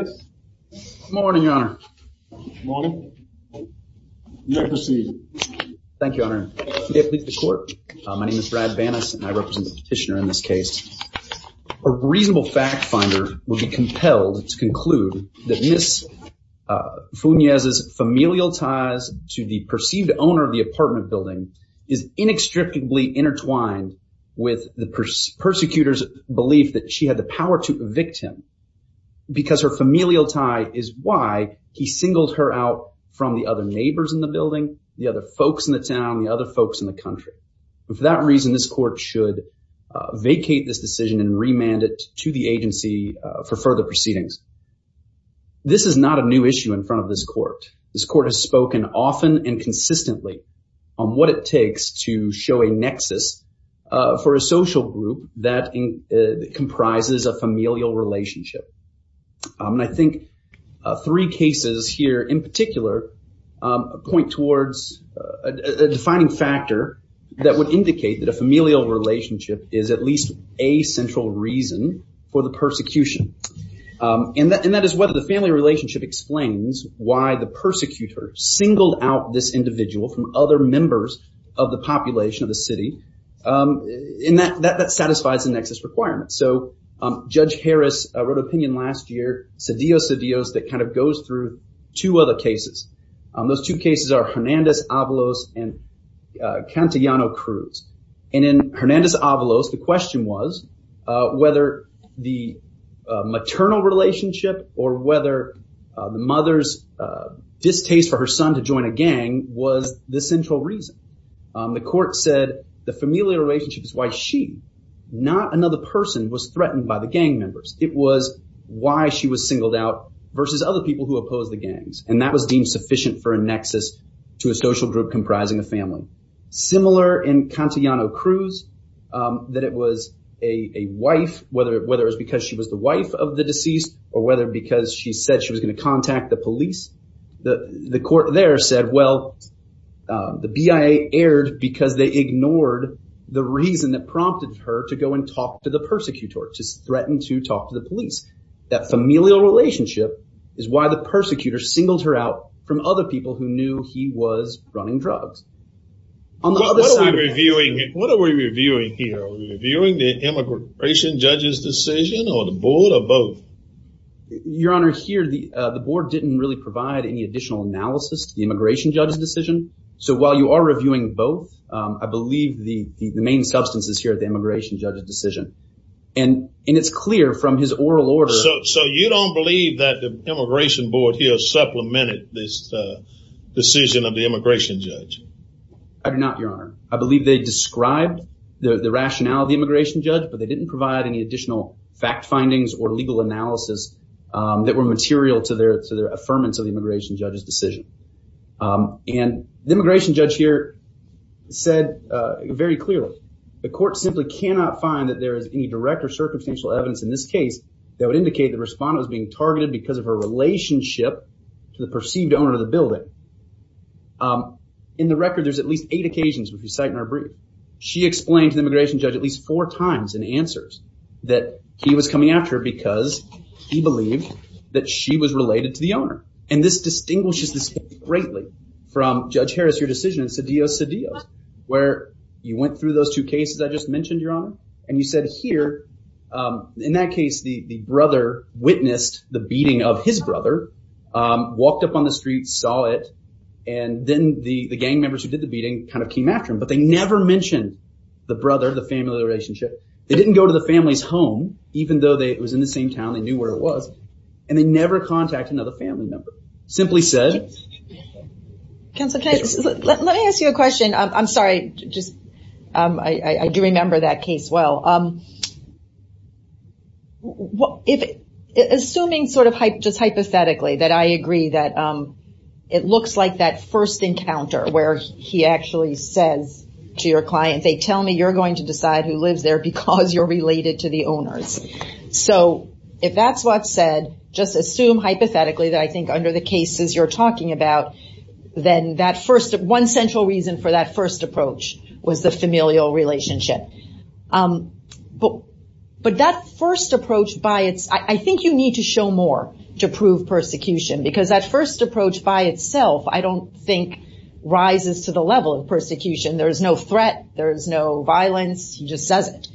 Good morning, Your Honor. Good morning. You may proceed. Thank you, Your Honor. Today, I plead the court. My name is Brad Banas and I represent the petitioner in this case. A reasonable fact finder will be compelled to conclude that Ms. Funez's familial ties to the perceived owner of the apartment building is inextricably intertwined with the persecutor's belief that she had the power to evict him because her familial tie is why he singled her out from the other neighbors in the building, the other folks in the town, the other folks in the country. For that reason, this court should vacate this decision and remand it to the agency for further proceedings. This is not a new issue in front of this court. This court has spoken often and consistently on what it takes to show a nexus for a social group that comprises a familial relationship. And I think three cases here in particular point towards a defining factor that would indicate that a familial relationship is at least a central reason for the persecution. And that is whether the family relationship explains why the persecutor singled out this individual from other members of the population of the city. And that satisfies the nexus requirement. So Judge Harris wrote an opinion last year, Cedillo-Cedillos, that kind of goes through two other cases. Those two cases are Hernandez-Avalos and Cantillano-Cruz. And in Hernandez-Avalos, the question was whether the maternal relationship or whether the mother's distaste for her son to join a gang was the central reason. The court said the familial relationship is why she, not another person, was threatened by the gang members. It was why she was singled out versus other people who opposed the gangs. And that was deemed sufficient for a nexus to a social group comprising a family. Similar in Cantillano-Cruz, that it was a wife, whether it was because she was the wife of the deceased or whether because she said she was going to contact the police. The court there said, well, the BIA erred because they ignored the reason that prompted her to go and talk to the persecutor, to threaten to talk to the police. That familial relationship is why the persecutor singled her out from other people who knew he was running drugs. What are we reviewing here? Are we reviewing the immigration judge's decision or the board or both? Your Honor, here the board didn't really provide any additional analysis to the immigration judge's decision. So while you are reviewing both, I believe the main substance is here at the immigration judge's decision. And it's clear from his oral order. So you don't believe that the immigration board here supplemented the decision of the immigration judge? I do not, Your Honor. I believe they described the rationale of the immigration judge, but they didn't provide any additional fact findings or legal analysis that were material to their affirmance of the immigration judge's decision. And the immigration judge here said very clearly, the court simply cannot find that there is any direct or circumstantial evidence in this case that would indicate the respondent was being the owner of the building. In the record, there's at least eight occasions where we cite Narbree. She explained to the immigration judge at least four times in answers that he was coming after her because he believed that she was related to the owner. And this distinguishes this greatly from Judge Harris, your decision in Cedillo, Cedillo, where you went through those two cases I just mentioned, Your Honor. And you said here, in that case, the brother witnessed the beating of his brother, walked up on the street, saw it, and then the gang members who did the beating kind of came after him. But they never mentioned the brother, the family relationship. They didn't go to the family's home, even though it was in the same town, they knew where it was, and they never contacted another family member. Simply said... Counselor, let me ask you a question. I'm sorry. I do remember that case well. Assuming just hypothetically that I agree that it looks like that first encounter where he actually says to your client, they tell me you're going to decide who lives there because you're related to the owners. So if that's what's said, just assume hypothetically that I think under the cases you're talking about, then that first, one central reason for that first approach was the familial relationship. But that first approach, I think you need to show more to prove persecution because that first approach by itself, I don't think rises to the level of persecution. There's no threat, there's no violence, he just says it.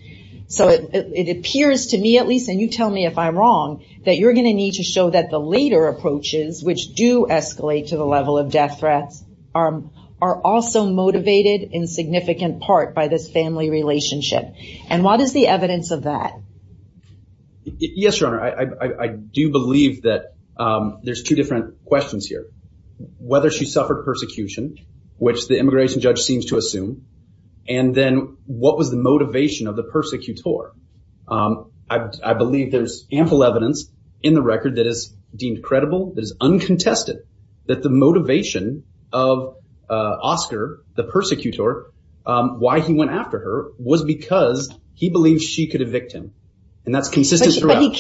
So it appears to me at least, and you tell me if I'm wrong, that you're going to need to show that the later approaches, which do escalate to the level of death threats, are also motivated in significant part by this family relationship. And what is the evidence of that? Yes, Your Honor. I do believe that there's two different questions here. Whether she suffered persecution, which the immigration judge seems to assume, and then what was the motivation of the persecutor? I believe there's ample evidence in the record that is deemed credible, that is uncontested, that the motivation of Oscar, the persecutor, why he went after her was because he believed she could evict him. And that's consistent throughout.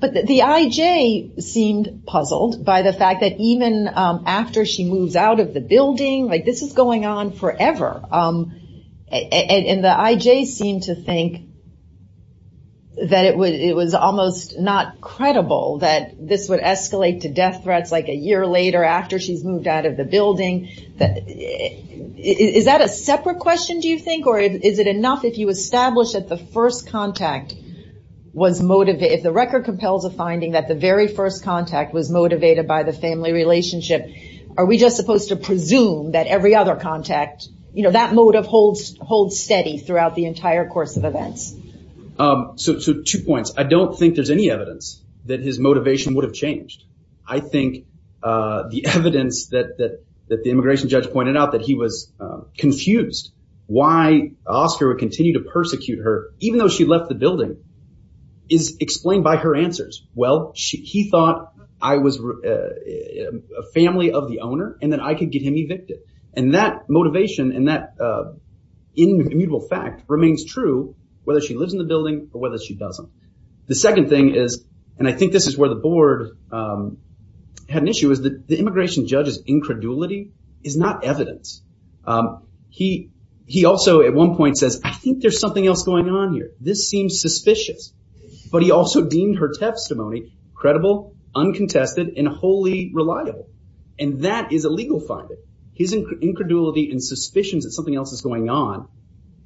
But the I.J. seemed puzzled by the fact that even after she moves out of the building, like this is going on forever, and the I.J. seemed to think that it was almost not credible that this would escalate to death threats like a year later after she's moved out of the building. Is that a separate question, do you think? Or is it enough if you establish that the first contact was motivated, if the record compels a finding that the very first contact was motivated by the family relationship, are we just supposed to presume that every other contact, that motive holds steady throughout the entire course of events? So two points. I don't think there's any evidence that his motivation would have changed. I think the evidence that the immigration judge pointed out that he was confused why Oscar would continue to persecute her, even though she left the building, is explained by her answers. Well, he thought I was a family of the owner and that I could get him evicted. And that motivation and that immutable fact remains true whether she lives in the building or whether she doesn't. The second thing is, and I think this is where the board had an issue, is that the immigration judge's incredulity is not evidence. He also at one point says, I think there's something else on here. This seems suspicious. But he also deemed her testimony credible, uncontested, and wholly reliable. And that is a legal finding. His incredulity and suspicions that something else is going on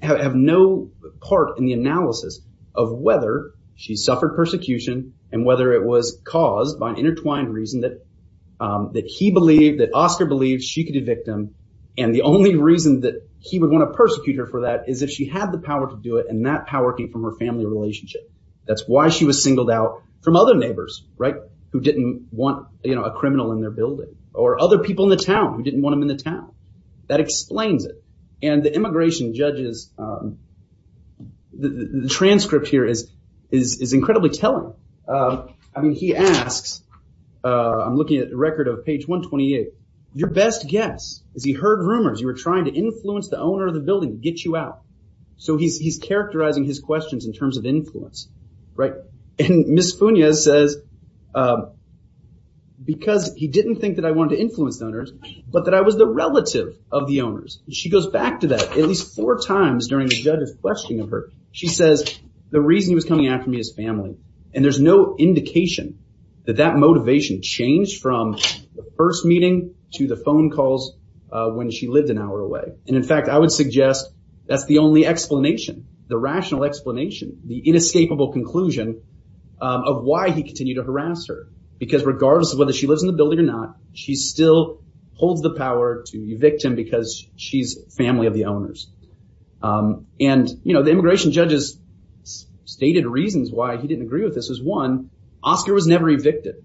have no part in the analysis of whether she suffered persecution and whether it was caused by an intertwined reason that he believed, that Oscar believed she could evict him. And the only reason that he would want to persecute her for that is if she had the power to do it and that power came from her family relationship. That's why she was singled out from other neighbors who didn't want a criminal in their building or other people in the town who didn't want him in the town. That explains it. And the immigration judge's transcript here is incredibly telling. I mean, he asks, I'm looking at the record of page 128. Your best guess is he heard rumors you were trying to influence the owner of the building to get you out. So he's characterizing his questions in terms of influence, right? And Ms. Funes says, because he didn't think that I wanted to influence the owners, but that I was the relative of the owners. She goes back to that at least four times during the judge's questioning of her. She says, the reason he was coming after me is family. And there's no indication that that motivation changed from the first meeting to the And in fact, I would suggest that's the only explanation, the rational explanation, the inescapable conclusion of why he continued to harass her. Because regardless of whether she lives in the building or not, she still holds the power to evict him because she's family of the owners. And the immigration judge's stated reasons why he didn't agree with this is one, Oscar was never evicted.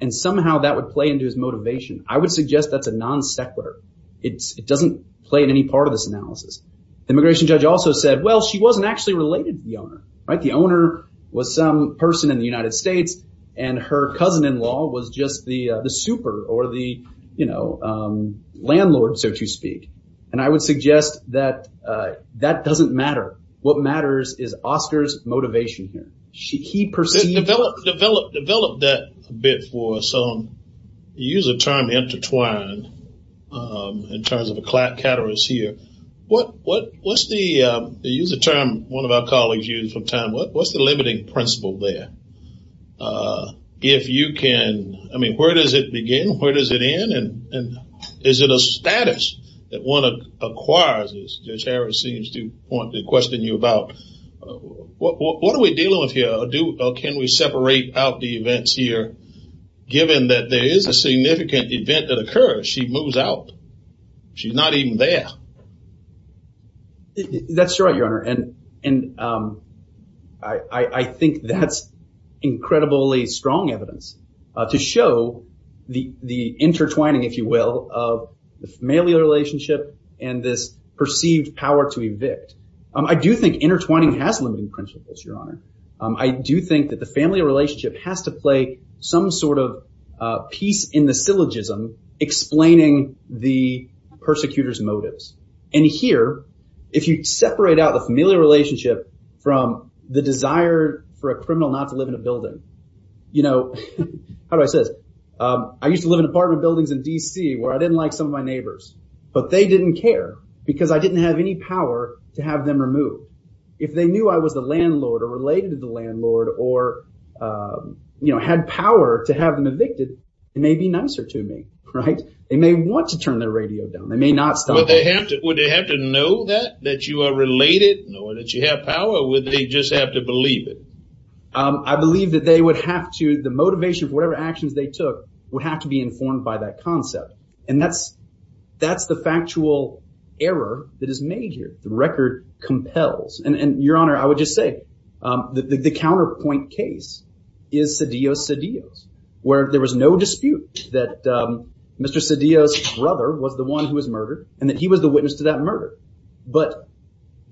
And somehow that would play into his motivation. I would suggest that's a non sequitur. It doesn't play in any part of this analysis. The immigration judge also said, well, she wasn't actually related to the owner, right? The owner was some person in the United States, and her cousin-in-law was just the super or the, you know, landlord, so to speak. And I would suggest that that doesn't matter. What matters is Oscar's motivation here. He perceived- Develop that a bit for some, you use the term intertwined in terms of a clatterus here. What's the, you use the term one of our colleagues used from time, what's the limiting principle there? If you can, I mean, where does it begin? Where does it end? And is it a status that one acquires, as Judge Harris seems to want to question you about? What are we dealing with or can we separate out the events here? Given that there is a significant event that occurs, she moves out. She's not even there. That's right, Your Honor. And I think that's incredibly strong evidence to show the intertwining, if you will, of the familial relationship and this perceived power to evict. I do think intertwining has limiting principles, Your Honor. I do think that the familial relationship has to play some sort of piece in the syllogism explaining the persecutor's motives. And here, if you separate out the familial relationship from the desire for a criminal not to live in a building, you know, how do I say this? I used to live in apartment buildings in D.C. where I didn't like some of my neighbors, but they didn't care because I didn't have any power to have them removed. If they knew I was the landlord or related to the landlord or, you know, had power to have them evicted, it may be nicer to me, right? They may want to turn their radio down. They may not stop. Would they have to know that, that you are related, know that you have power, or would they just have to believe it? I believe that they would have to, the motivation for whatever actions they took, would have to be informed by that concept. And that's, that's the factual error that is made here. The record compels. And Your Honor, I would just say that the counterpoint case is Cedillo-Cedillo's, where there was no dispute that Mr. Cedillo's brother was the one who was murdered and that he was the witness to that murder. But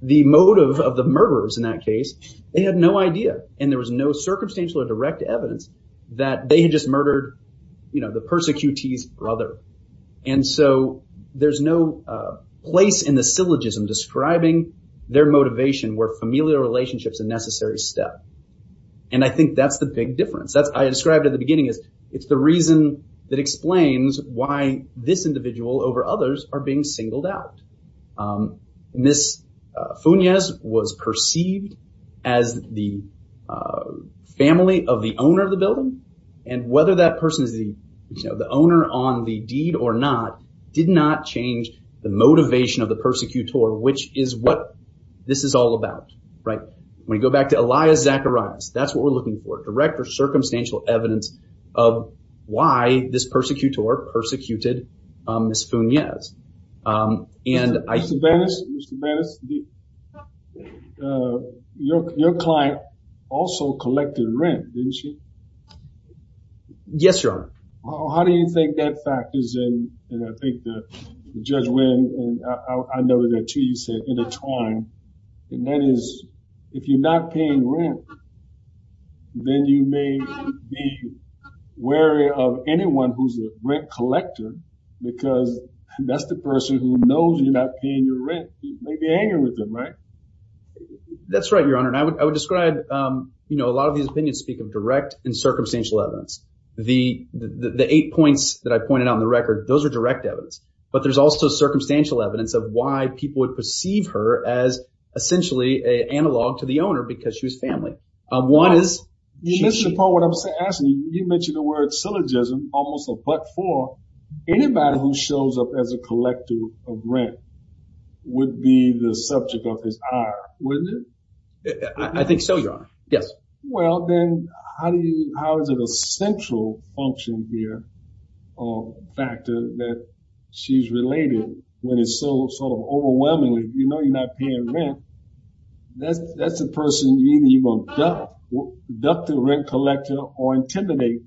the motive of the murderers in that case, they had no idea. And there was no circumstantial or direct evidence that they just murdered, you know, the persecutee's brother. And so there's no place in the syllogism describing their motivation where familial relationships are a necessary step. And I think that's the big difference. That's, I described at the beginning is, it's the reason that explains why this individual over others are being singled out. Ms. Funes was perceived as the family of the owner of the building. And whether that person is the, you know, the owner on the deed or not, did not change the motivation of the persecutor, which is what this is all about, right? When you go back to Elias Zacharias, that's what we're looking for, direct or circumstantial evidence of why this persecutor persecuted Ms. Funes. Mr. Bennis, your client also collected rent, didn't she? Yes, Your Honor. How do you think that factors in, and I think Judge Wynn and I know that too, you said intertwine, and that is, if you're not paying rent, then you may be wary of anyone who's a rent collector because that's the person who knows you're not paying your rent. You may be hanging with them, right? That's right, Your Honor. And I would describe, you know, a lot of these opinions speak of direct and circumstantial evidence. The eight points that I pointed out in the record, those are direct evidence, but there's also circumstantial evidence of why people would perceive her as essentially a analog to the owner because she was family. One is- You mentioned the word syllogism, almost a but-for. Anybody who shows up as a collector of rent would be the subject of his hire, wouldn't it? I think so, Your Honor. Yes. Well, then how is it a central function here or factor that she's related when it's so sort of overwhelmingly, you know, you're not paying rent, that's the person you're going to deduct the rent collector or intimidate.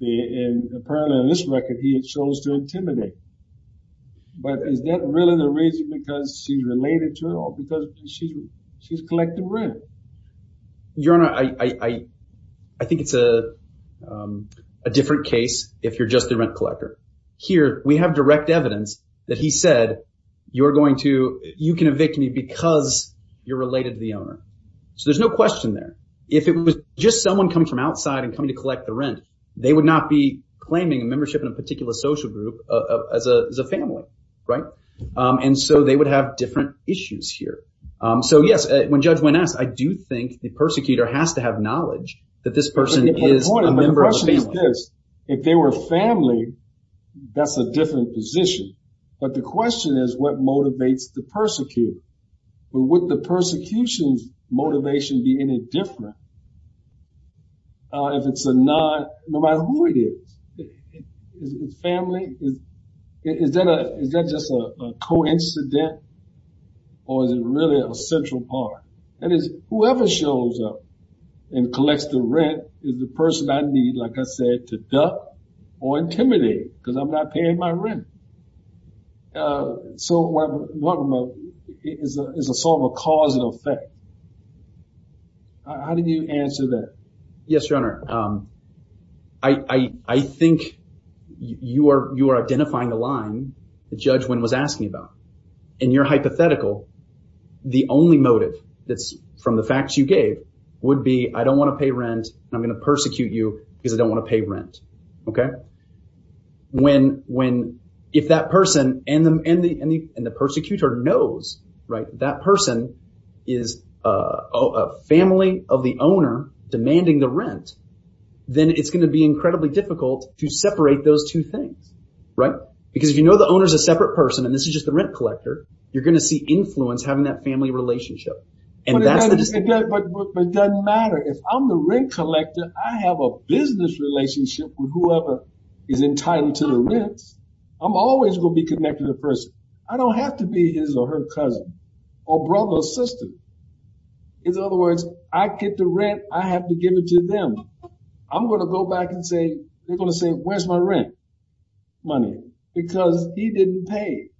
And apparently in this record, he chose to intimidate. But is that really the reason because she's related to it or because she's collecting rent? Your Honor, I think it's a different case if you're just the rent collector. Here, we have direct evidence that he said, you're going to- you can evict me because you're related to the owner. So there's no question there. If it was just someone coming from outside and coming to collect the rent, they would not be claiming a membership in a particular social group as a family, right? And so they would have different issues here. So yes, when Judge Wynne asks, I do think the persecutor has to have knowledge that this person is a member of the family. But the point of the question is this. If they were family, that's a different position. But the question is, what motivates the persecutor? But would the persecution's motivation be any different? If it's a non- no matter who it is, is it family? Is that just a coincident or is it really a central part? That is, whoever shows up and collects the rent is the person I need, like I said, to duck or intimidate because I'm not paying my rent. So what I'm talking about, is a sort of a causal effect. How do you answer that? Yes, Your Honor. I think you are identifying the line that Judge Wynne was asking about. In your hypothetical, the only motive that's from the facts you gave would be, I don't want to pay rent and I'm going to persecute you because I don't want to pay rent. Okay? Right. If that person and the persecutor knows that person is a family of the owner demanding the rent, then it's going to be incredibly difficult to separate those two things. Right? Because if you know the owner is a separate person and this is just the rent collector, you're going to see influence having that family relationship. But it doesn't matter. If I'm the rent collector, I have a business relationship with whoever is entitled to the rent. I'm always going to be connected to the person. I don't have to be his or her cousin or brother or sister. In other words, I get the rent, I have to give it to them. I'm going to go back and say, they're going to say, where's my rent money? Because he didn't pay.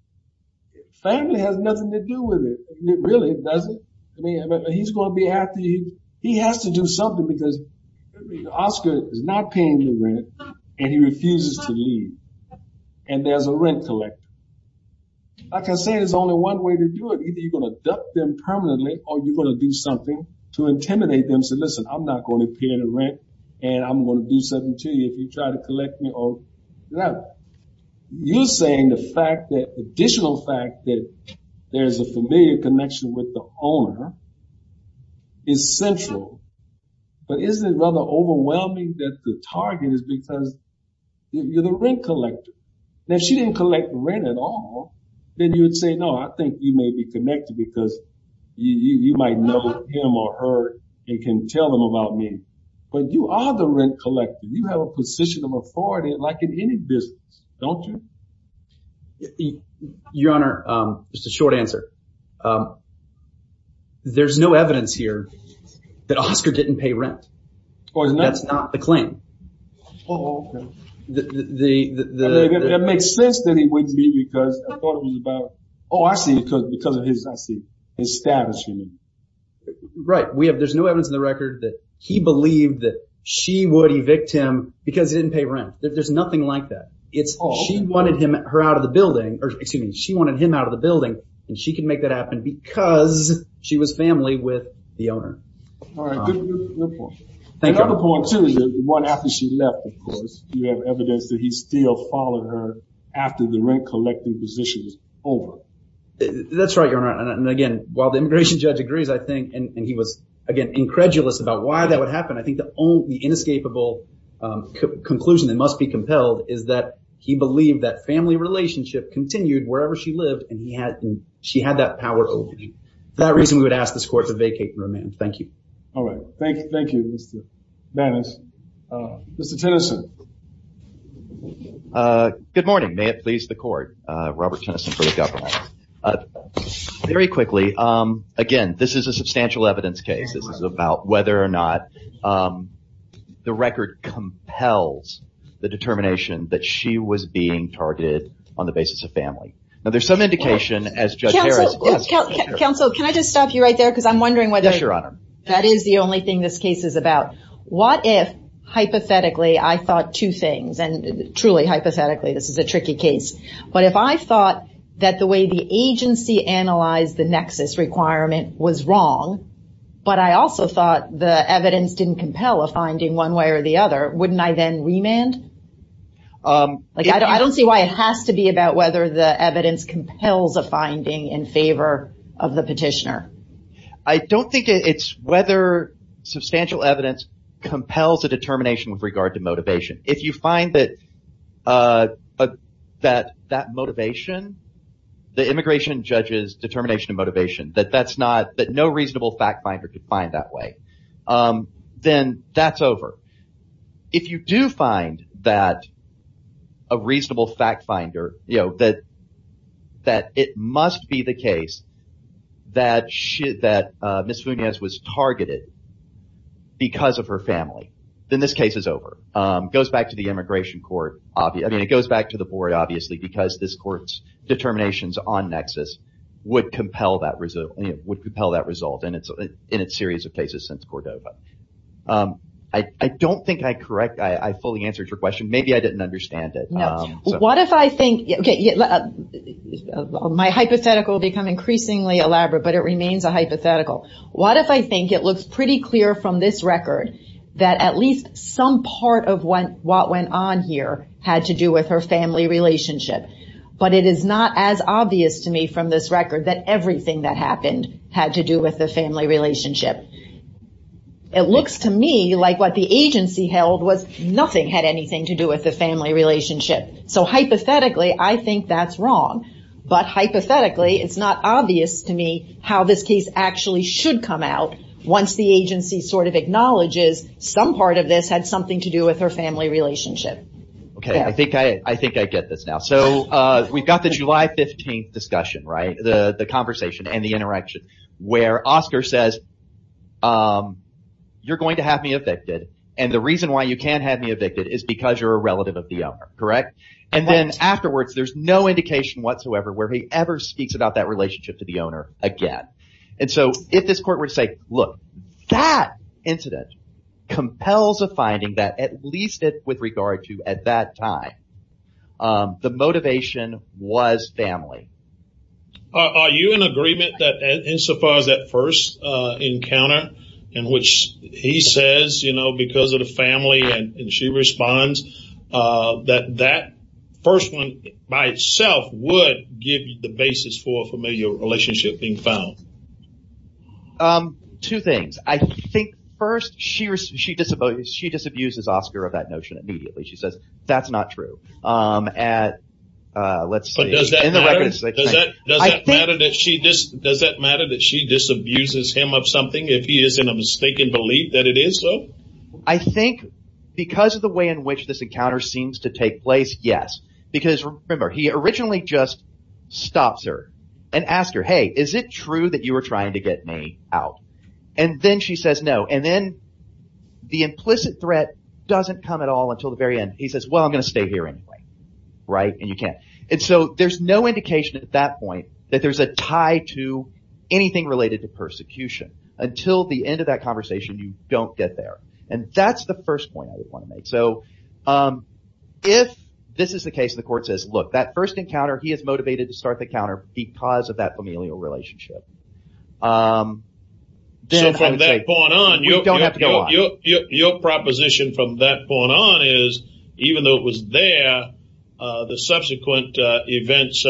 Family has nothing to do with it. It really doesn't. He's going to be happy. He has to do something because Oscar is not paying the rent and he refuses to leave. And there's a rent collector. Like I said, there's only one way to do it. Either you're going to duck them permanently or you're going to do something to intimidate them and say, listen, I'm not going to pay the rent and I'm going to do something to you if you try to collect me or whatever. You're saying the additional fact that there's a familiar connection with the owner is central. But isn't it rather overwhelming that the target is because you're the rent collector? Now, if she didn't collect rent at all, then you would say, no, I think you may be connected because you might know him or her and can tell them about me. But you are the rent collector. You have a position of authority like in any business, don't you? Your Honor, just a short answer. There's no evidence here that Oscar didn't pay rent. That's not the claim. That makes sense that he wouldn't be because I thought it was about, oh, I see, because of his establishment. Right. There's no evidence in the record that he believed that she would evict him because he didn't pay rent. There's nothing like that. She wanted him out of the building and she could make that happen because she was family with the owner. All right. Good point. Another point, too, is that after she left, of course, you have evidence that he still followed her after the rent collecting position was over. That's right, Your Honor. And again, while the immigration judge agrees, I think, and he was, again, incredulous about why that would happen, I think the only inescapable conclusion that must be compelled is that he believed that family relationship continued wherever she lived and she had that power over him. For that reason, we would ask this court to vacate the remand. Thank you. All right. Thank you, Mr. Banas. Mr. Tennyson. Good morning. May it please the court, Robert Tennyson for the government. Very quickly, again, this is a substantial evidence case. This is about whether or not the record compels the determination that she was being targeted on the basis of family. Now, there's some indication as Judge Harris- Counsel, can I just stop you right there? Yes, Your Honor. Because I'm wondering whether that is the only thing this case is about. What if, hypothetically, I thought two things, and truly hypothetically, this is a tricky case, but if I thought that the way the agency analyzed the nexus requirement was wrong, but I also thought the evidence didn't compel a finding one way or the other, wouldn't I then remand? I don't see why it has to be about whether the evidence compels a finding in favor of the petitioner. I don't think it's whether substantial evidence compels a determination with regard to motivation. If you find that that motivation, the immigration judge's determination of motivation, that no reasonable fact finder could find that way, then that's over. If you do find that a reasonable fact finder, that it must be the case that Ms. Funes was targeted because of her family, then this case is over. It goes back to the immigration court. It goes back to the board, obviously, because this court's determinations on nexus would compel that result in its series of cases since Cordova. I don't think I fully answered your question. Maybe I didn't understand it. No. My hypothetical will become increasingly elaborate, but it remains a hypothetical. What if I think it looks pretty clear from this record that at least some part of what went on here had to do with her family relationship, but it is not as obvious to me from this record that everything that happened had to do with the family relationship. It looks to me like what the agency held was nothing had anything to do with the family relationship. Hypothetically, I think that's wrong. Hypothetically, it's not obvious to me how this case actually should come out once the agency acknowledges some part of this had something to do with her family relationship. I think I get this now. We've got the July 15th conversation and the interaction where Oscar says, you're going to have me evicted, and the reason why you can't have me evicted is because you're a relative of the owner. Afterwards, there's no indication whatsoever where he ever speaks about that relationship to the owner again. If this court were to say, look, that incident compels a finding that at that time, the motivation was family. Are you in agreement that insofar as that first encounter in which he says because of the family and she responds that that first one by itself would give you the basis for a familial relationship being found? Two things. I think first, she disabuses Oscar of that notion immediately. She says, that's not true. Let's see. Does that matter that she disabuses him of something if he is in a mistaken belief that it is so? I think because of the way in which this encounter seems to take place, yes. Because remember, he originally just stops her and asks her, hey, is it true that you were trying to get me out? Then she says, no. Then the implicit threat doesn't come at all until the very end. He says, well, I'm going to stay here anyway, and you can't. There's no indication at that point that there's a tie to anything related to persecution. Until the end of that conversation, you don't get there. That's the first point I would want to make. If this is the case, the court says, look, that first encounter, he is motivated to start the encounter because of that point. From that point on, your proposition from that point on is, even though it was there, the subsequent events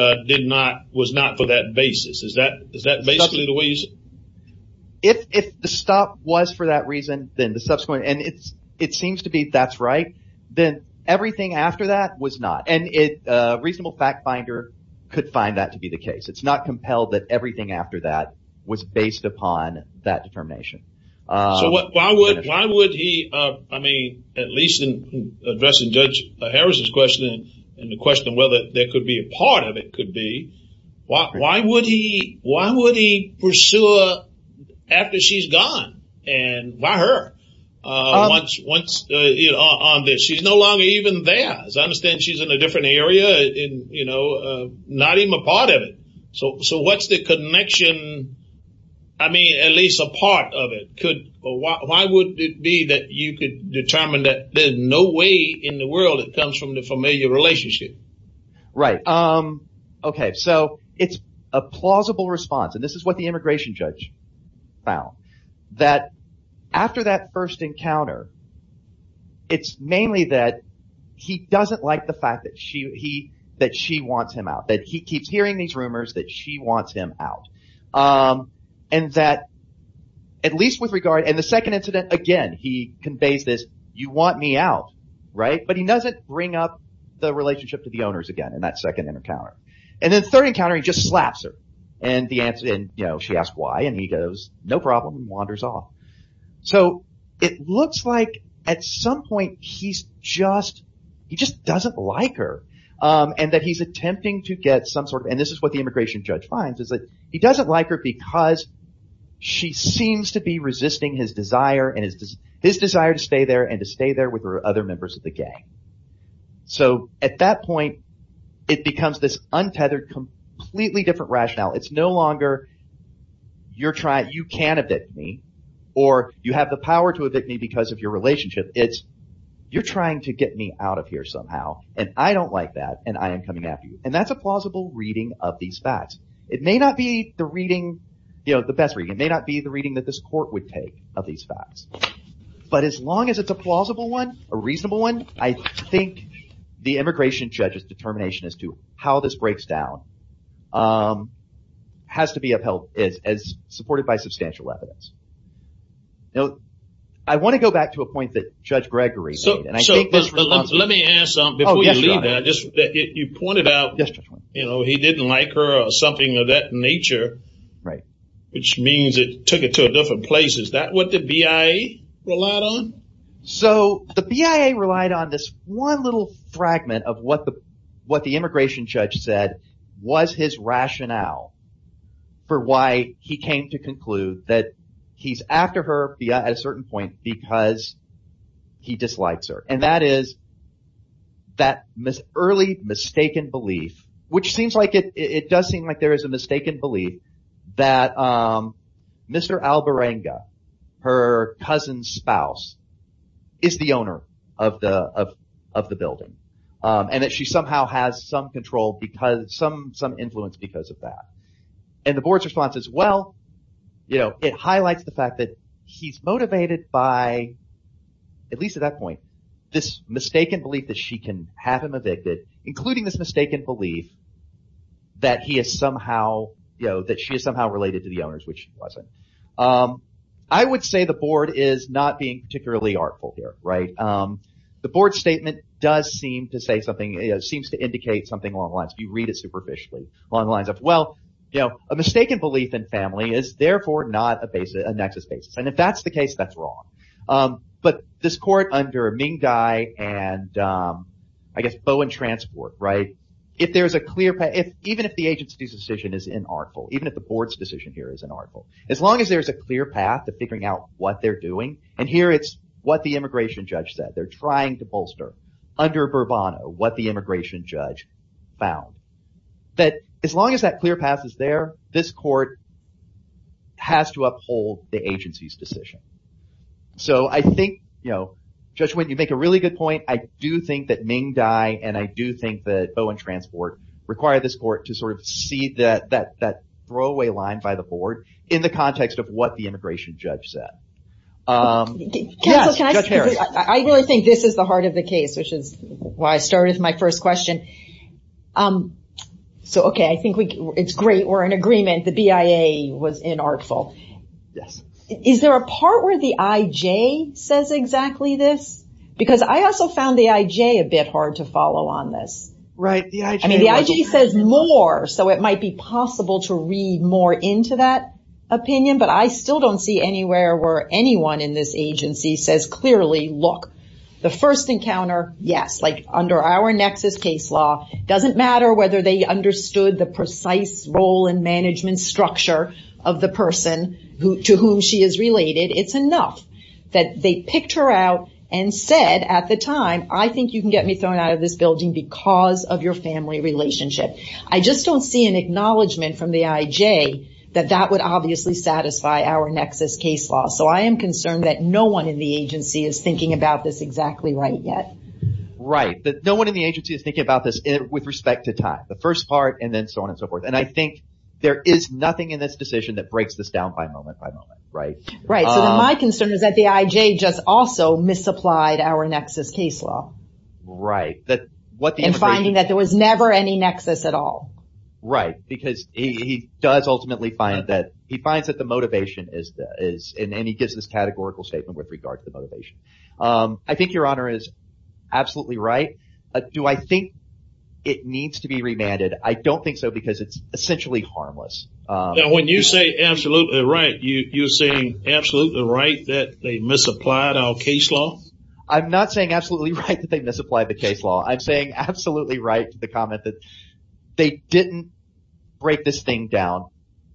was not for that basis. Is that basically the way you see it? If the stop was for that reason, then the subsequent, and it seems to be that's right, then everything after that was not. A reasonable fact finder could find that to be the case. It's not compelled that everything after that was based upon that determination. Why would he, at least in addressing Judge Harrison's question, and the question whether there could be a part of it could be, why would he pursue her after she's gone? Why her? Once on this, she's no longer even there. As I understand, she's in a different area, you know, not even a part of it. What's the connection? At least a part of it. Why would it be that you could determine that there's no way in the world it comes from the familiar relationship? Right. It's a plausible response. This is what the immigration judge found. That after that first encounter, it's mainly that he doesn't like the fact that she wants him out. That he keeps hearing these rumors that she wants him out. And that, at least with regard, in the second incident, again, he conveys this, you want me out, right? But he doesn't bring up the relationship to the owners again in that second encounter. In the third encounter, he just slaps her. She asks why, and he goes, no problem, and wanders off. It looks like at some point, he just doesn't like her. And that he's attempting to get some sort of, and this is what the immigration judge finds, he doesn't like her because she seems to be resisting his desire to stay there and to stay there with her other members of the rationale. It's no longer, you can evict me, or you have the power to evict me because of your relationship. It's, you're trying to get me out of here somehow, and I don't like that, and I am coming after you. And that's a plausible reading of these facts. It may not be the reading, the best reading. It may not be the reading that this court would take of these facts. But as long as it's a plausible one, a reasonable one, I think the immigration judge's determination as to how this breaks down has to be upheld as supported by substantial evidence. I want to go back to a point that Judge Gregory made. So let me ask, before you leave, you pointed out he didn't like her or something of that nature, which means it took it to a different place. Is that what the BIA relied on? So the BIA relied on this one little fragment of what the immigration judge said was his rationale for why he came to conclude that he's after her at a certain point because he dislikes her. And that is that early mistaken belief, which seems like it, it does seem like there is a is the owner of the building. And that she somehow has some control because, some influence because of that. And the board's response is, well, it highlights the fact that he's motivated by, at least at that point, this mistaken belief that she can have him evicted, including this mistaken belief that he is somehow, that she is somehow related to the owners, which she wasn't. I would say the board is not being particularly artful here. The board statement does seem to say something, seems to indicate something along the lines, if you read it superficially, along the lines of, well, a mistaken belief in family is therefore not a basis, a nexus basis. And if that's the case, that's wrong. But this court under Ming Dai and, I guess, Bowen Transport, if there's a clear, even if the agency's decision is inartful, even if the board's decision here is inartful, as long as there's a clear path to figuring out what they're doing, and here it's what the immigration judge said, they're trying to bolster, under Bourbon, what the immigration judge found, that as long as that clear path is there, this court has to uphold the agency's decision. So I think, you know, Judge Nguyen, you make a really good point. I do think that Ming Dai and I do think that Bowen Transport require this court to sort of see that throwaway line by the line in the context of what the immigration judge said. Judge Harris. I really think this is the heart of the case, which is why I started with my first question. So, okay, I think it's great we're in agreement the BIA was inartful. Yes. Is there a part where the IJ says exactly this? Because I also found the IJ a bit hard to follow on this. Right, the IJ- opinion, but I still don't see anywhere where anyone in this agency says clearly, look, the first encounter, yes, like under our nexus case law, doesn't matter whether they understood the precise role and management structure of the person to whom she is related. It's enough that they picked her out and said at the time, I think you can get me thrown out of this building because of your family relationship. I just don't see an acknowledgement from the IJ that that would obviously satisfy our nexus case law. So I am concerned that no one in the agency is thinking about this exactly right yet. Right. No one in the agency is thinking about this with respect to time, the first part, and then so on and so forth. And I think there is nothing in this decision that breaks this down by moment by moment, right? Right. So my concern is that the IJ just also misapplied our nexus case law. Right. And finding that there was never any nexus at all. Right. Because he does ultimately find that he finds that the motivation is, and he gives this categorical statement with regard to the motivation. I think your honor is absolutely right. Do I think it needs to be remanded? I don't think so because it's essentially harmless. When you say absolutely right, you're saying absolutely right that they misapplied our case law? I'm not saying absolutely right that they misapplied the case law. I'm saying absolutely right to the comment that they didn't break this thing down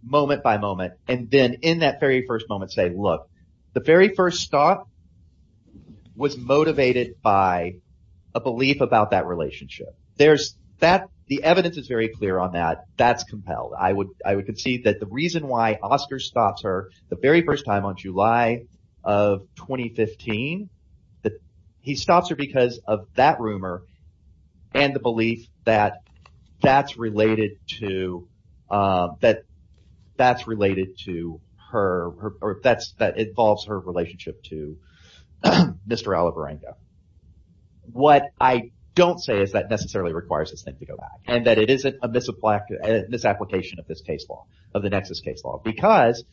moment by moment. And then in that very first moment say, look, the very first stop was motivated by a belief about that relationship. The evidence is very clear on that. That's compelled. I would concede that the reason why Oscar stops her the very first time on July of 2015, that he stops her because of that rumor and the belief that that's related to, that that's related to her or that's, that involves her relationship to Mr. Alivarengo. What I don't say is that necessarily requires this thing to and that it isn't a misapplication of this case law, of the nexus case law, because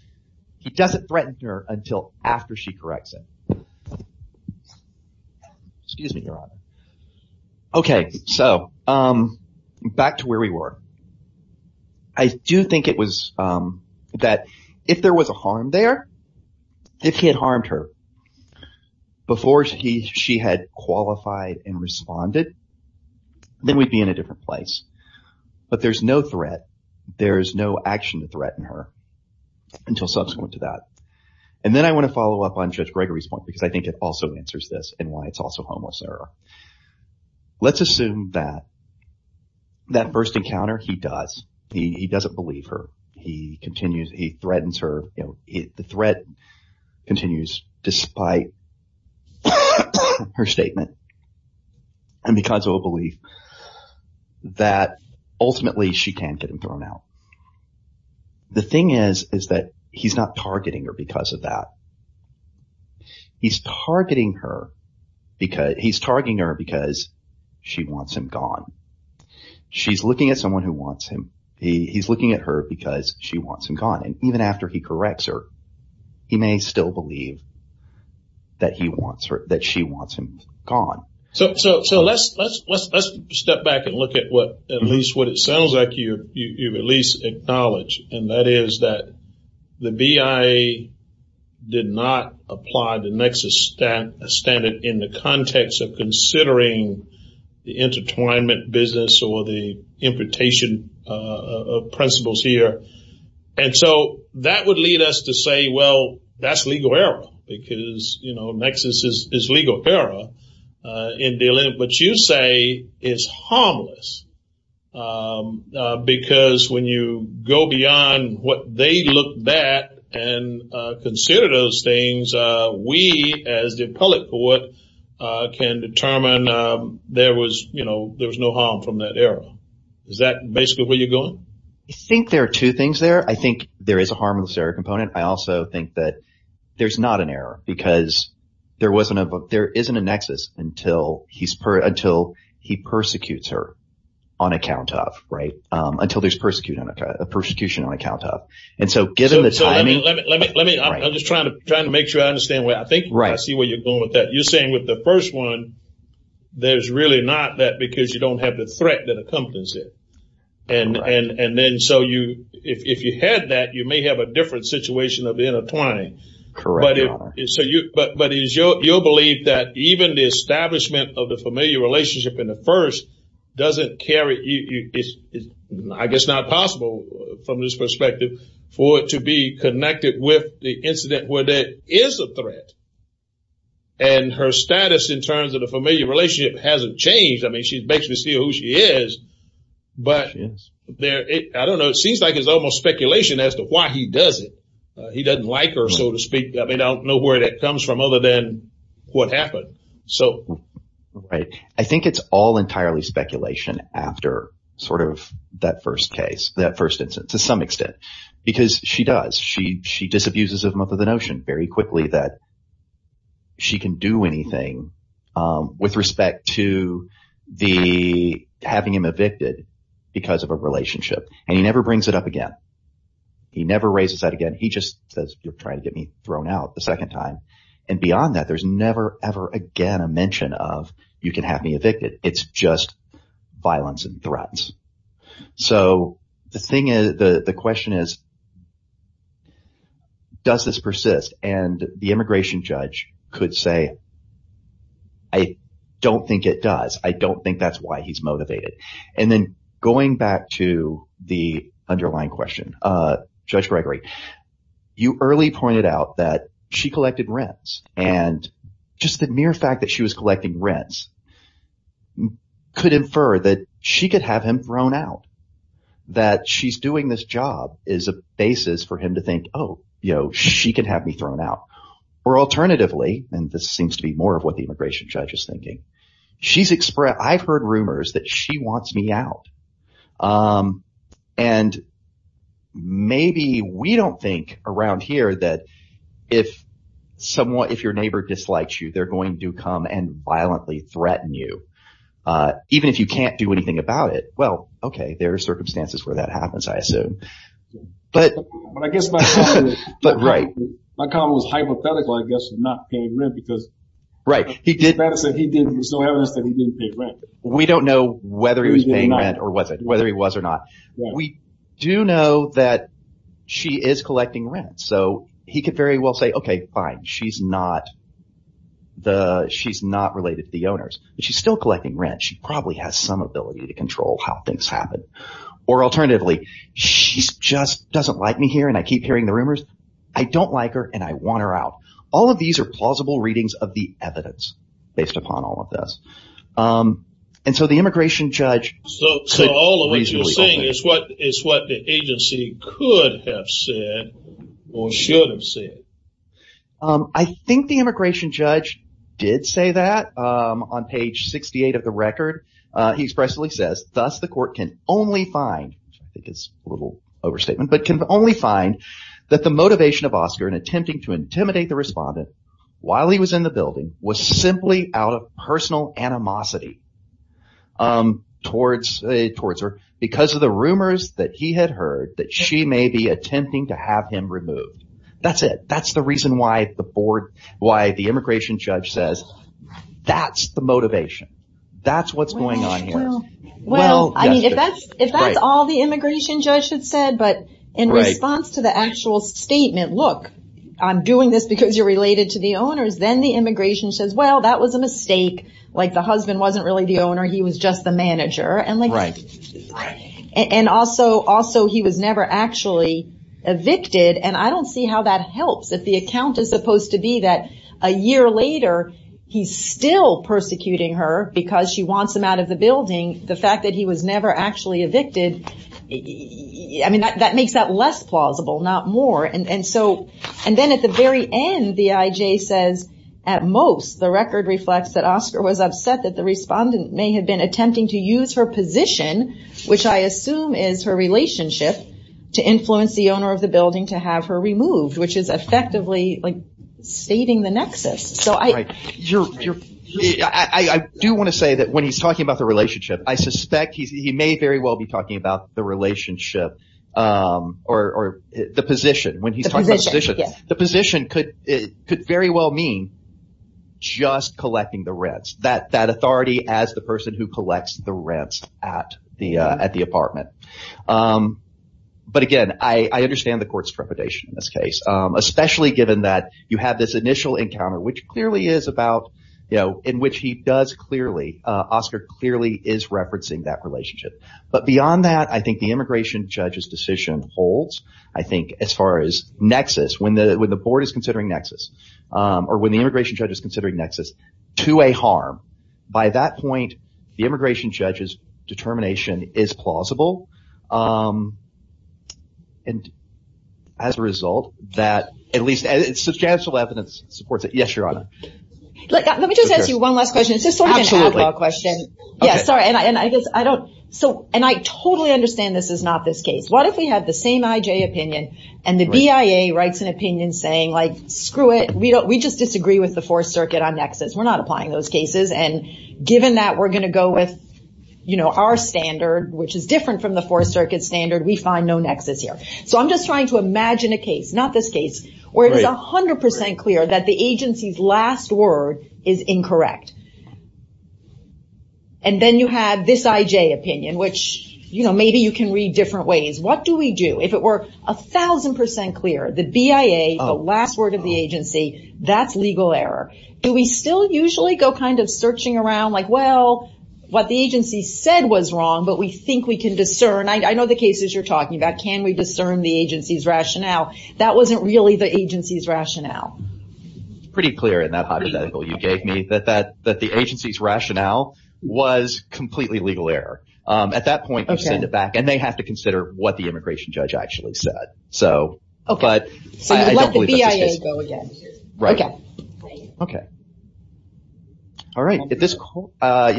he doesn't threaten her until after she corrects him. Excuse me, your honor. Okay. So back to where we were. I do think it was that if there was a harm there, if he had harmed her before she had qualified and responded, then we'd be in a different place. But there's no threat. There's no action to threaten her until subsequent to that. And then I want to follow up on Judge Gregory's point, because I think it also answers this and why it's also homeless error. Let's assume that that first encounter he does, he doesn't believe her. He continues, he threatens her. The threat continues despite her statement and because of a belief that ultimately she can't get him thrown out. The thing is, is that he's not targeting her because of that. He's targeting her because she wants him gone. She's looking at someone who wants him. He's looking at her because she wants him gone. And even after he corrects her, he may still believe that she wants him gone. So let's step back and look at what, at least what it sounds like you've at least acknowledged. And that is that the BIA did not apply the nexus standard in the context of considering the intertwinement business or the imputation of principles here. And so that would lead us to say, well, that's legal error, because nexus is legal error in dealing with what you say is harmless. Because when you go beyond what they look back and consider those things, we as the appellate court can determine there was no harm from that error. Is that basically where you're going? I think there are two things there. I think there is a harmless error component. I also think that there's not an error because there wasn't a book. There isn't a nexus until he's until he persecutes her on account of right until there's persecuting a persecution on account of. And so given the timing, let me let me I'm just trying to trying to make sure I understand where I think. Right. I see where you're going with that. You're saying with the first one, there's really not that because you don't have the threat that accompanies it. And and then so you if you had that, you may have a different situation of intertwining. Correct. So you but but you'll believe that even the establishment of the familiar relationship in the first doesn't carry. I guess not possible from this perspective for it to be connected with the incident where there is a threat. And her status in terms of the familiar relationship hasn't changed. I mean, she's basically still who she is, but there I don't know. It seems like it's almost speculation as to why he does it. He doesn't like her, so to speak. I mean, I don't know where that comes from other than what happened. So I think it's all entirely speculation after sort of that first case, that first instance to some extent, because she does. She she disabuses of the notion very quickly that. She can do anything with respect to the having him evicted because of a relationship, and he never brings it up again. He never raises that again. He just says you're trying to get me thrown out the second time. And beyond that, there's never ever again a mention of you can have me evicted. It's just violence and threats. So the thing is, the question is. Does this persist and the immigration judge could say. I don't think it does. I don't think that's why he's motivated. And then going back to the underlying question, Judge Gregory, you early pointed out that she collected rents and just the mere fact that she was collecting rents could infer that she could have him thrown out, that she's doing this job is a basis for him to think, oh, you know, she could have me thrown out or alternatively. And this seems to be more of what the immigration judge is thinking. She's express. I've heard rumors that she wants me out. And maybe we don't think around here that if someone if your neighbor dislikes you, they're going to come and violently threaten you. Even if you can't do anything about it. Well, OK, there are circumstances where that happens, I assume. But I guess. But right. My comment was hypothetical, I guess, not paying rent because. Right. He did. He did. So he didn't pay rent. We don't know whether he was paying rent or wasn't, whether he was or not. We do know that she is collecting rent. So he could very well say, OK, fine, she's not the she's not related to the owners, but she's still collecting rent. She probably has some ability to control how things happen. Or alternatively, she just doesn't like me here. And I keep hearing the rumors. I don't like her and I want her out. All of these are plausible readings of the evidence based upon all of this. And so the immigration judge. So all of what you're saying is what is what the agency could have said or should have said. I think the immigration judge did say that on page 68 of the record. He expressly says, thus, the court can only find his little overstatement, but can only find that the motivation of Oscar in attempting to intimidate the respondent while he was in the building was simply out of personal animosity towards towards her because of the rumors that he had heard that she may be attempting to have him removed. That's it. That's the reason why the board, why the immigration judge says that's the motivation. That's what's going on here. Well, I mean, if that's if that's all the immigration judge had said. But in response to the actual statement, look, I'm doing this because you're related to the owners. Then the immigration says, well, that was a mistake. Like the husband wasn't really the owner. He was just the manager. And like. And also also he was never actually evicted. And I don't see how that helps if the account is supposed to be that a year later, he's still persecuting her because she wants him out of the building. The fact that he was never actually evicted. I mean, that makes that less plausible, not more. And so and then at the very end, the IJ says at most the record reflects that Oscar was upset that the respondent may have been attempting to use her position, which I assume is her relationship to influence the owner of the building to have her removed, which is effectively like saving the nexus. So I do want to say that when he's talking about the relationship, I suspect he may very well be talking about the relationship or the position when he's the position. The position could could very well mean just collecting the rents that that authority as the person who collects the rents at the at the apartment. But again, I understand the court's trepidation in this case, especially given that you have this initial encounter, which clearly is about, you know, in which he does clearly. Oscar clearly is referencing that relationship. But beyond that, I think the immigration judge's holds, I think as far as nexus, when the when the board is considering nexus or when the immigration judge is considering nexus to a harm. By that point, the immigration judge's determination is plausible. And as a result, that at least substantial evidence supports it. Yes, Your Honor. Let me just ask you one last question. It's just sort of a question. Yeah, sorry. And I guess I don't so and I totally understand this is not this case. What if we had the same IJ opinion and the BIA writes an opinion saying like, screw it, we don't we just disagree with the Fourth Circuit on nexus. We're not applying those cases. And given that we're going to go with, you know, our standard, which is different from the Fourth Circuit standard, we find no nexus here. So I'm just trying to imagine a case, not this case, where it is 100 percent clear that the agency's last word is incorrect. And then you have this IJ opinion, which, you know, maybe you can read different ways. What do we do if it were a thousand percent clear the BIA, the last word of the agency, that's legal error? Do we still usually go kind of searching around like, well, what the agency said was wrong, but we think we can discern. I know the cases you're talking about. Can we discern the agency's rationale? That wasn't really the agency's rationale. Pretty clear in that hypothetical you gave me that the agency's rationale was completely legal error. At that point, they send it back and they have to consider what the immigration judge actually said. So, but I don't believe that's the case. So you let the BIA go again. Right. Okay. All right. If this, you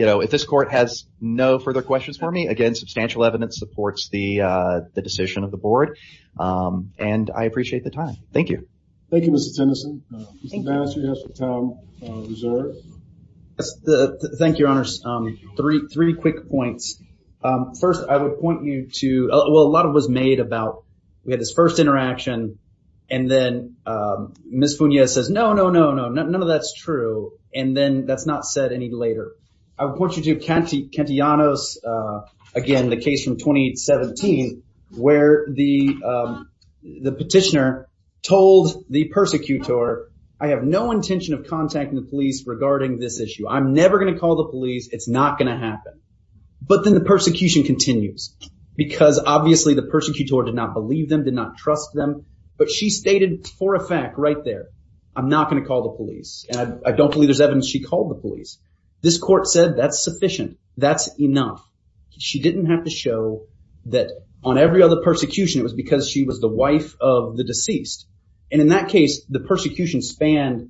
know, if this court has no further questions for me, again, substantial evidence supports the decision of the board. And I appreciate the time. Thank you. Thank you, Mr. Tennyson. Mr. Bannister, you have some time reserved. Thank you, your honors. Three, three quick points. First, I would point you to, well, a lot of was made about we had this first interaction and then Ms. Funia says, no, no, no, no, no, none of that's true. And then that's not said any later. I would point you to Kentianos, again, the case from 2017, where the petitioner told the persecutor, I have no intention of contacting the police regarding this issue. I'm never going to call the police. It's not going to happen. But then the persecution continues because obviously the persecutor did not believe them, did not trust them. But she stated for a fact right there, I'm not going to call the police. And I don't believe there's evidence she called the police. This court said that's sufficient. That's enough. She didn't have to show that on every other persecution, it was because she was the wife of the deceased. And in that case, the persecution spanned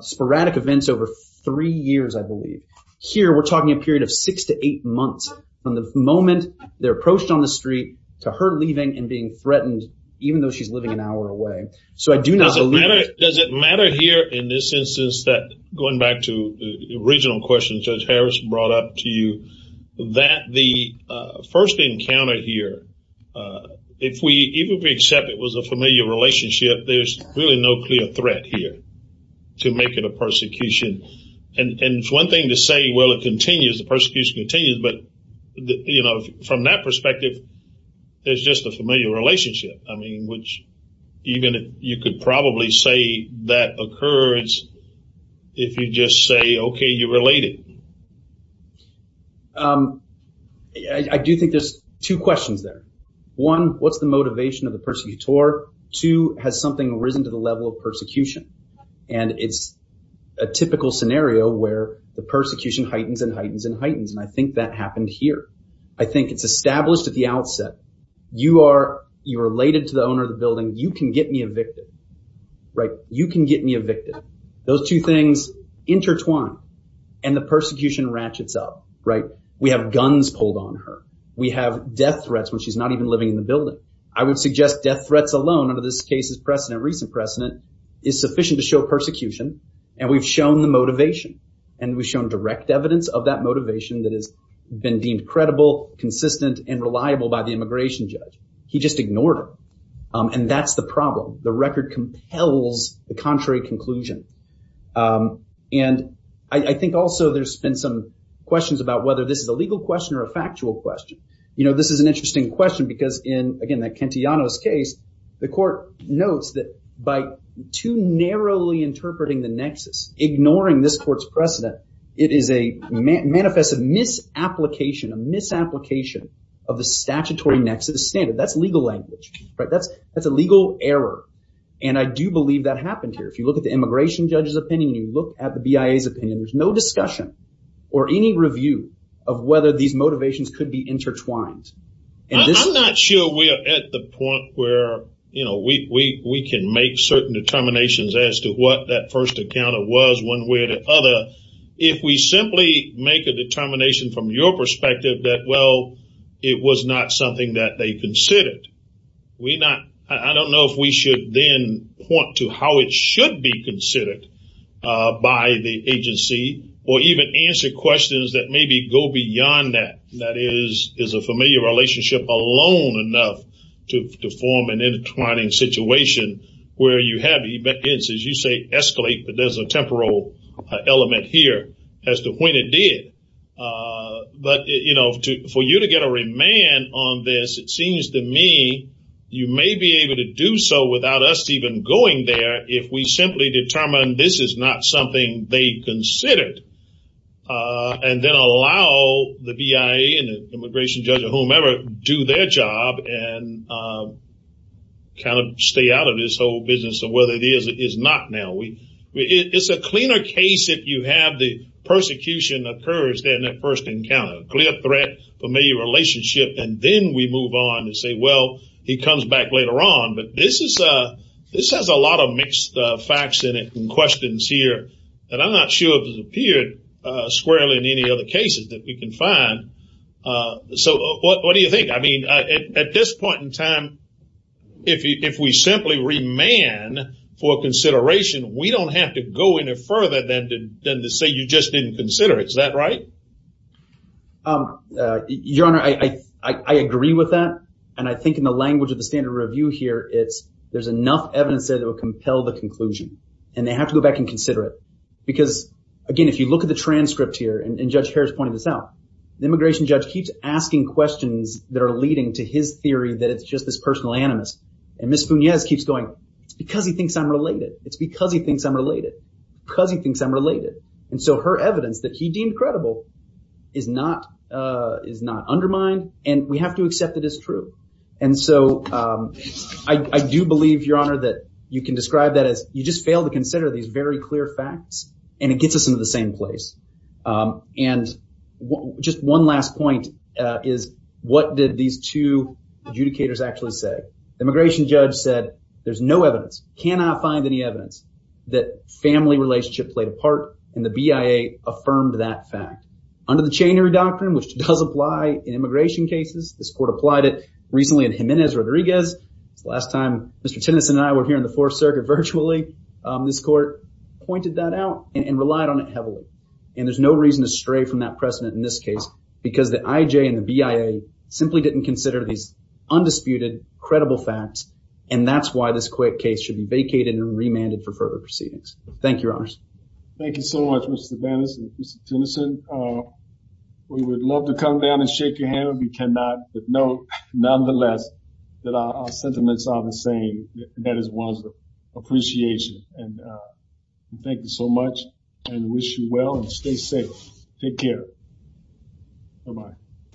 sporadic events over three years, I believe. Here, we're talking a period of six to eight months from the moment they're approached on the street to her leaving and being threatened, even though she's living an hour away. So I do not believe it. Does it matter here in this instance that, going back to the original question Judge Harris brought up to you, that the first encounter here, if we even accept it was a familiar relationship, there's really no clear threat here to make it a persecution. And it's one thing to say, well, it continues, the persecution continues. But from that perspective, it's just a familiar relationship. I mean, which you could probably say that occurs if you just say, okay, you're related. I do think there's two questions there. One, what's the motivation of the persecutor? Two, has something risen to the level of persecution? And it's a typical scenario where the persecution heightens and heightens and heightens. And I think that happened here. I think it's established at the outset, you are, you're related to the owner of the building, you can get me evicted, right? You can get me evicted. Those two things intertwine and the persecution ratchets up, right? We have guns pulled on her. We have death threats when she's not even living in the building. I would suggest death threats alone under this case's precedent, recent precedent, is sufficient to show persecution. And we've shown the motivation and we've shown direct evidence of that motivation that has been deemed credible, consistent, and reliable by the immigration judge. He just ignored her. And that's the problem. The record compels the contrary conclusion. And I think also there's been some questions about whether this is a legal question or a factual question. You know, this is an interesting question because in, again, the Kentianos case, the court notes that by too narrowly interpreting the nexus, ignoring this court's precedent, it is a manifest misapplication, a misapplication of the statutory nexus standard. That's legal language, right? That's a legal error. And I do believe that happened here. If you look at the immigration judge's opinion, you look at the BIA's opinion, there's no discussion or any review of whether these motivations could be intertwined. And I'm not sure we are at the point where, you know, we can make certain determinations as to what that first encounter was one way or the other. If we simply make a determination from your perspective that, well, it was not something that they considered, I don't know if we should then point to how it should be considered by the agency or even answer questions that maybe go beyond that. That is, is a familiar relationship alone enough to form an intertwining situation where you have, as you say, escalate, but there's a temporal element here as to when it did. But, you know, for you to get a remand on this, it seems to me you may be able to do so without us even going there if we simply determine this is not something they considered and then allow the BIA and the immigration judge or whomever do their job and kind of stay out of this whole business of whether it is or is not now. It's a cleaner case if you have the persecution occurs than that first encounter. Clear threat, familiar relationship, and then we move on and say, well, he comes back later on. But this has a lot of mixed facts in it and questions here that I'm you can find. So what do you think? I mean, at this point in time, if we simply remand for consideration, we don't have to go any further than to say you just didn't consider it. Is that right? Your Honor, I agree with that. And I think in the language of the standard review here, it's there's enough evidence that will compel the conclusion and they have to go back and consider it. Because, again, if you look at the transcript here, and Judge Harris pointed this out, the immigration judge keeps asking questions that are leading to his theory that it's just this personal animus. And Ms. Funiez keeps going, it's because he thinks I'm related. It's because he thinks I'm related because he thinks I'm related. And so her evidence that he deemed credible is not is not undermined. And we have to accept it as true. And so I do believe, Your Honor, that you can describe that as you just fail to consider these very clear facts, and it gets us into the same place. And just one last point is what did these two adjudicators actually say? The immigration judge said, there's no evidence, cannot find any evidence that family relationship played a part. And the BIA affirmed that fact under the chainery doctrine, which does apply in immigration cases. This court applied it recently in Jimenez Rodriguez. It's the last time Mr. Tennyson and I were here in the Fourth Circuit virtually. This court pointed that out and relied on it heavily. And there's no reason to stray from that precedent in this case, because the IJ and the BIA simply didn't consider these undisputed, credible facts. And that's why this quick case should be vacated and remanded for further proceedings. Thank you, Your Honors. Thank you so much, Mr. Vaness and Mr. Tennyson. We would love to come down and shake your hand, but we cannot. But know, nonetheless, that our sentiments are the same, and that is one of the appreciation. And thank you so much and wish you well and stay safe. Take care. Bye-bye.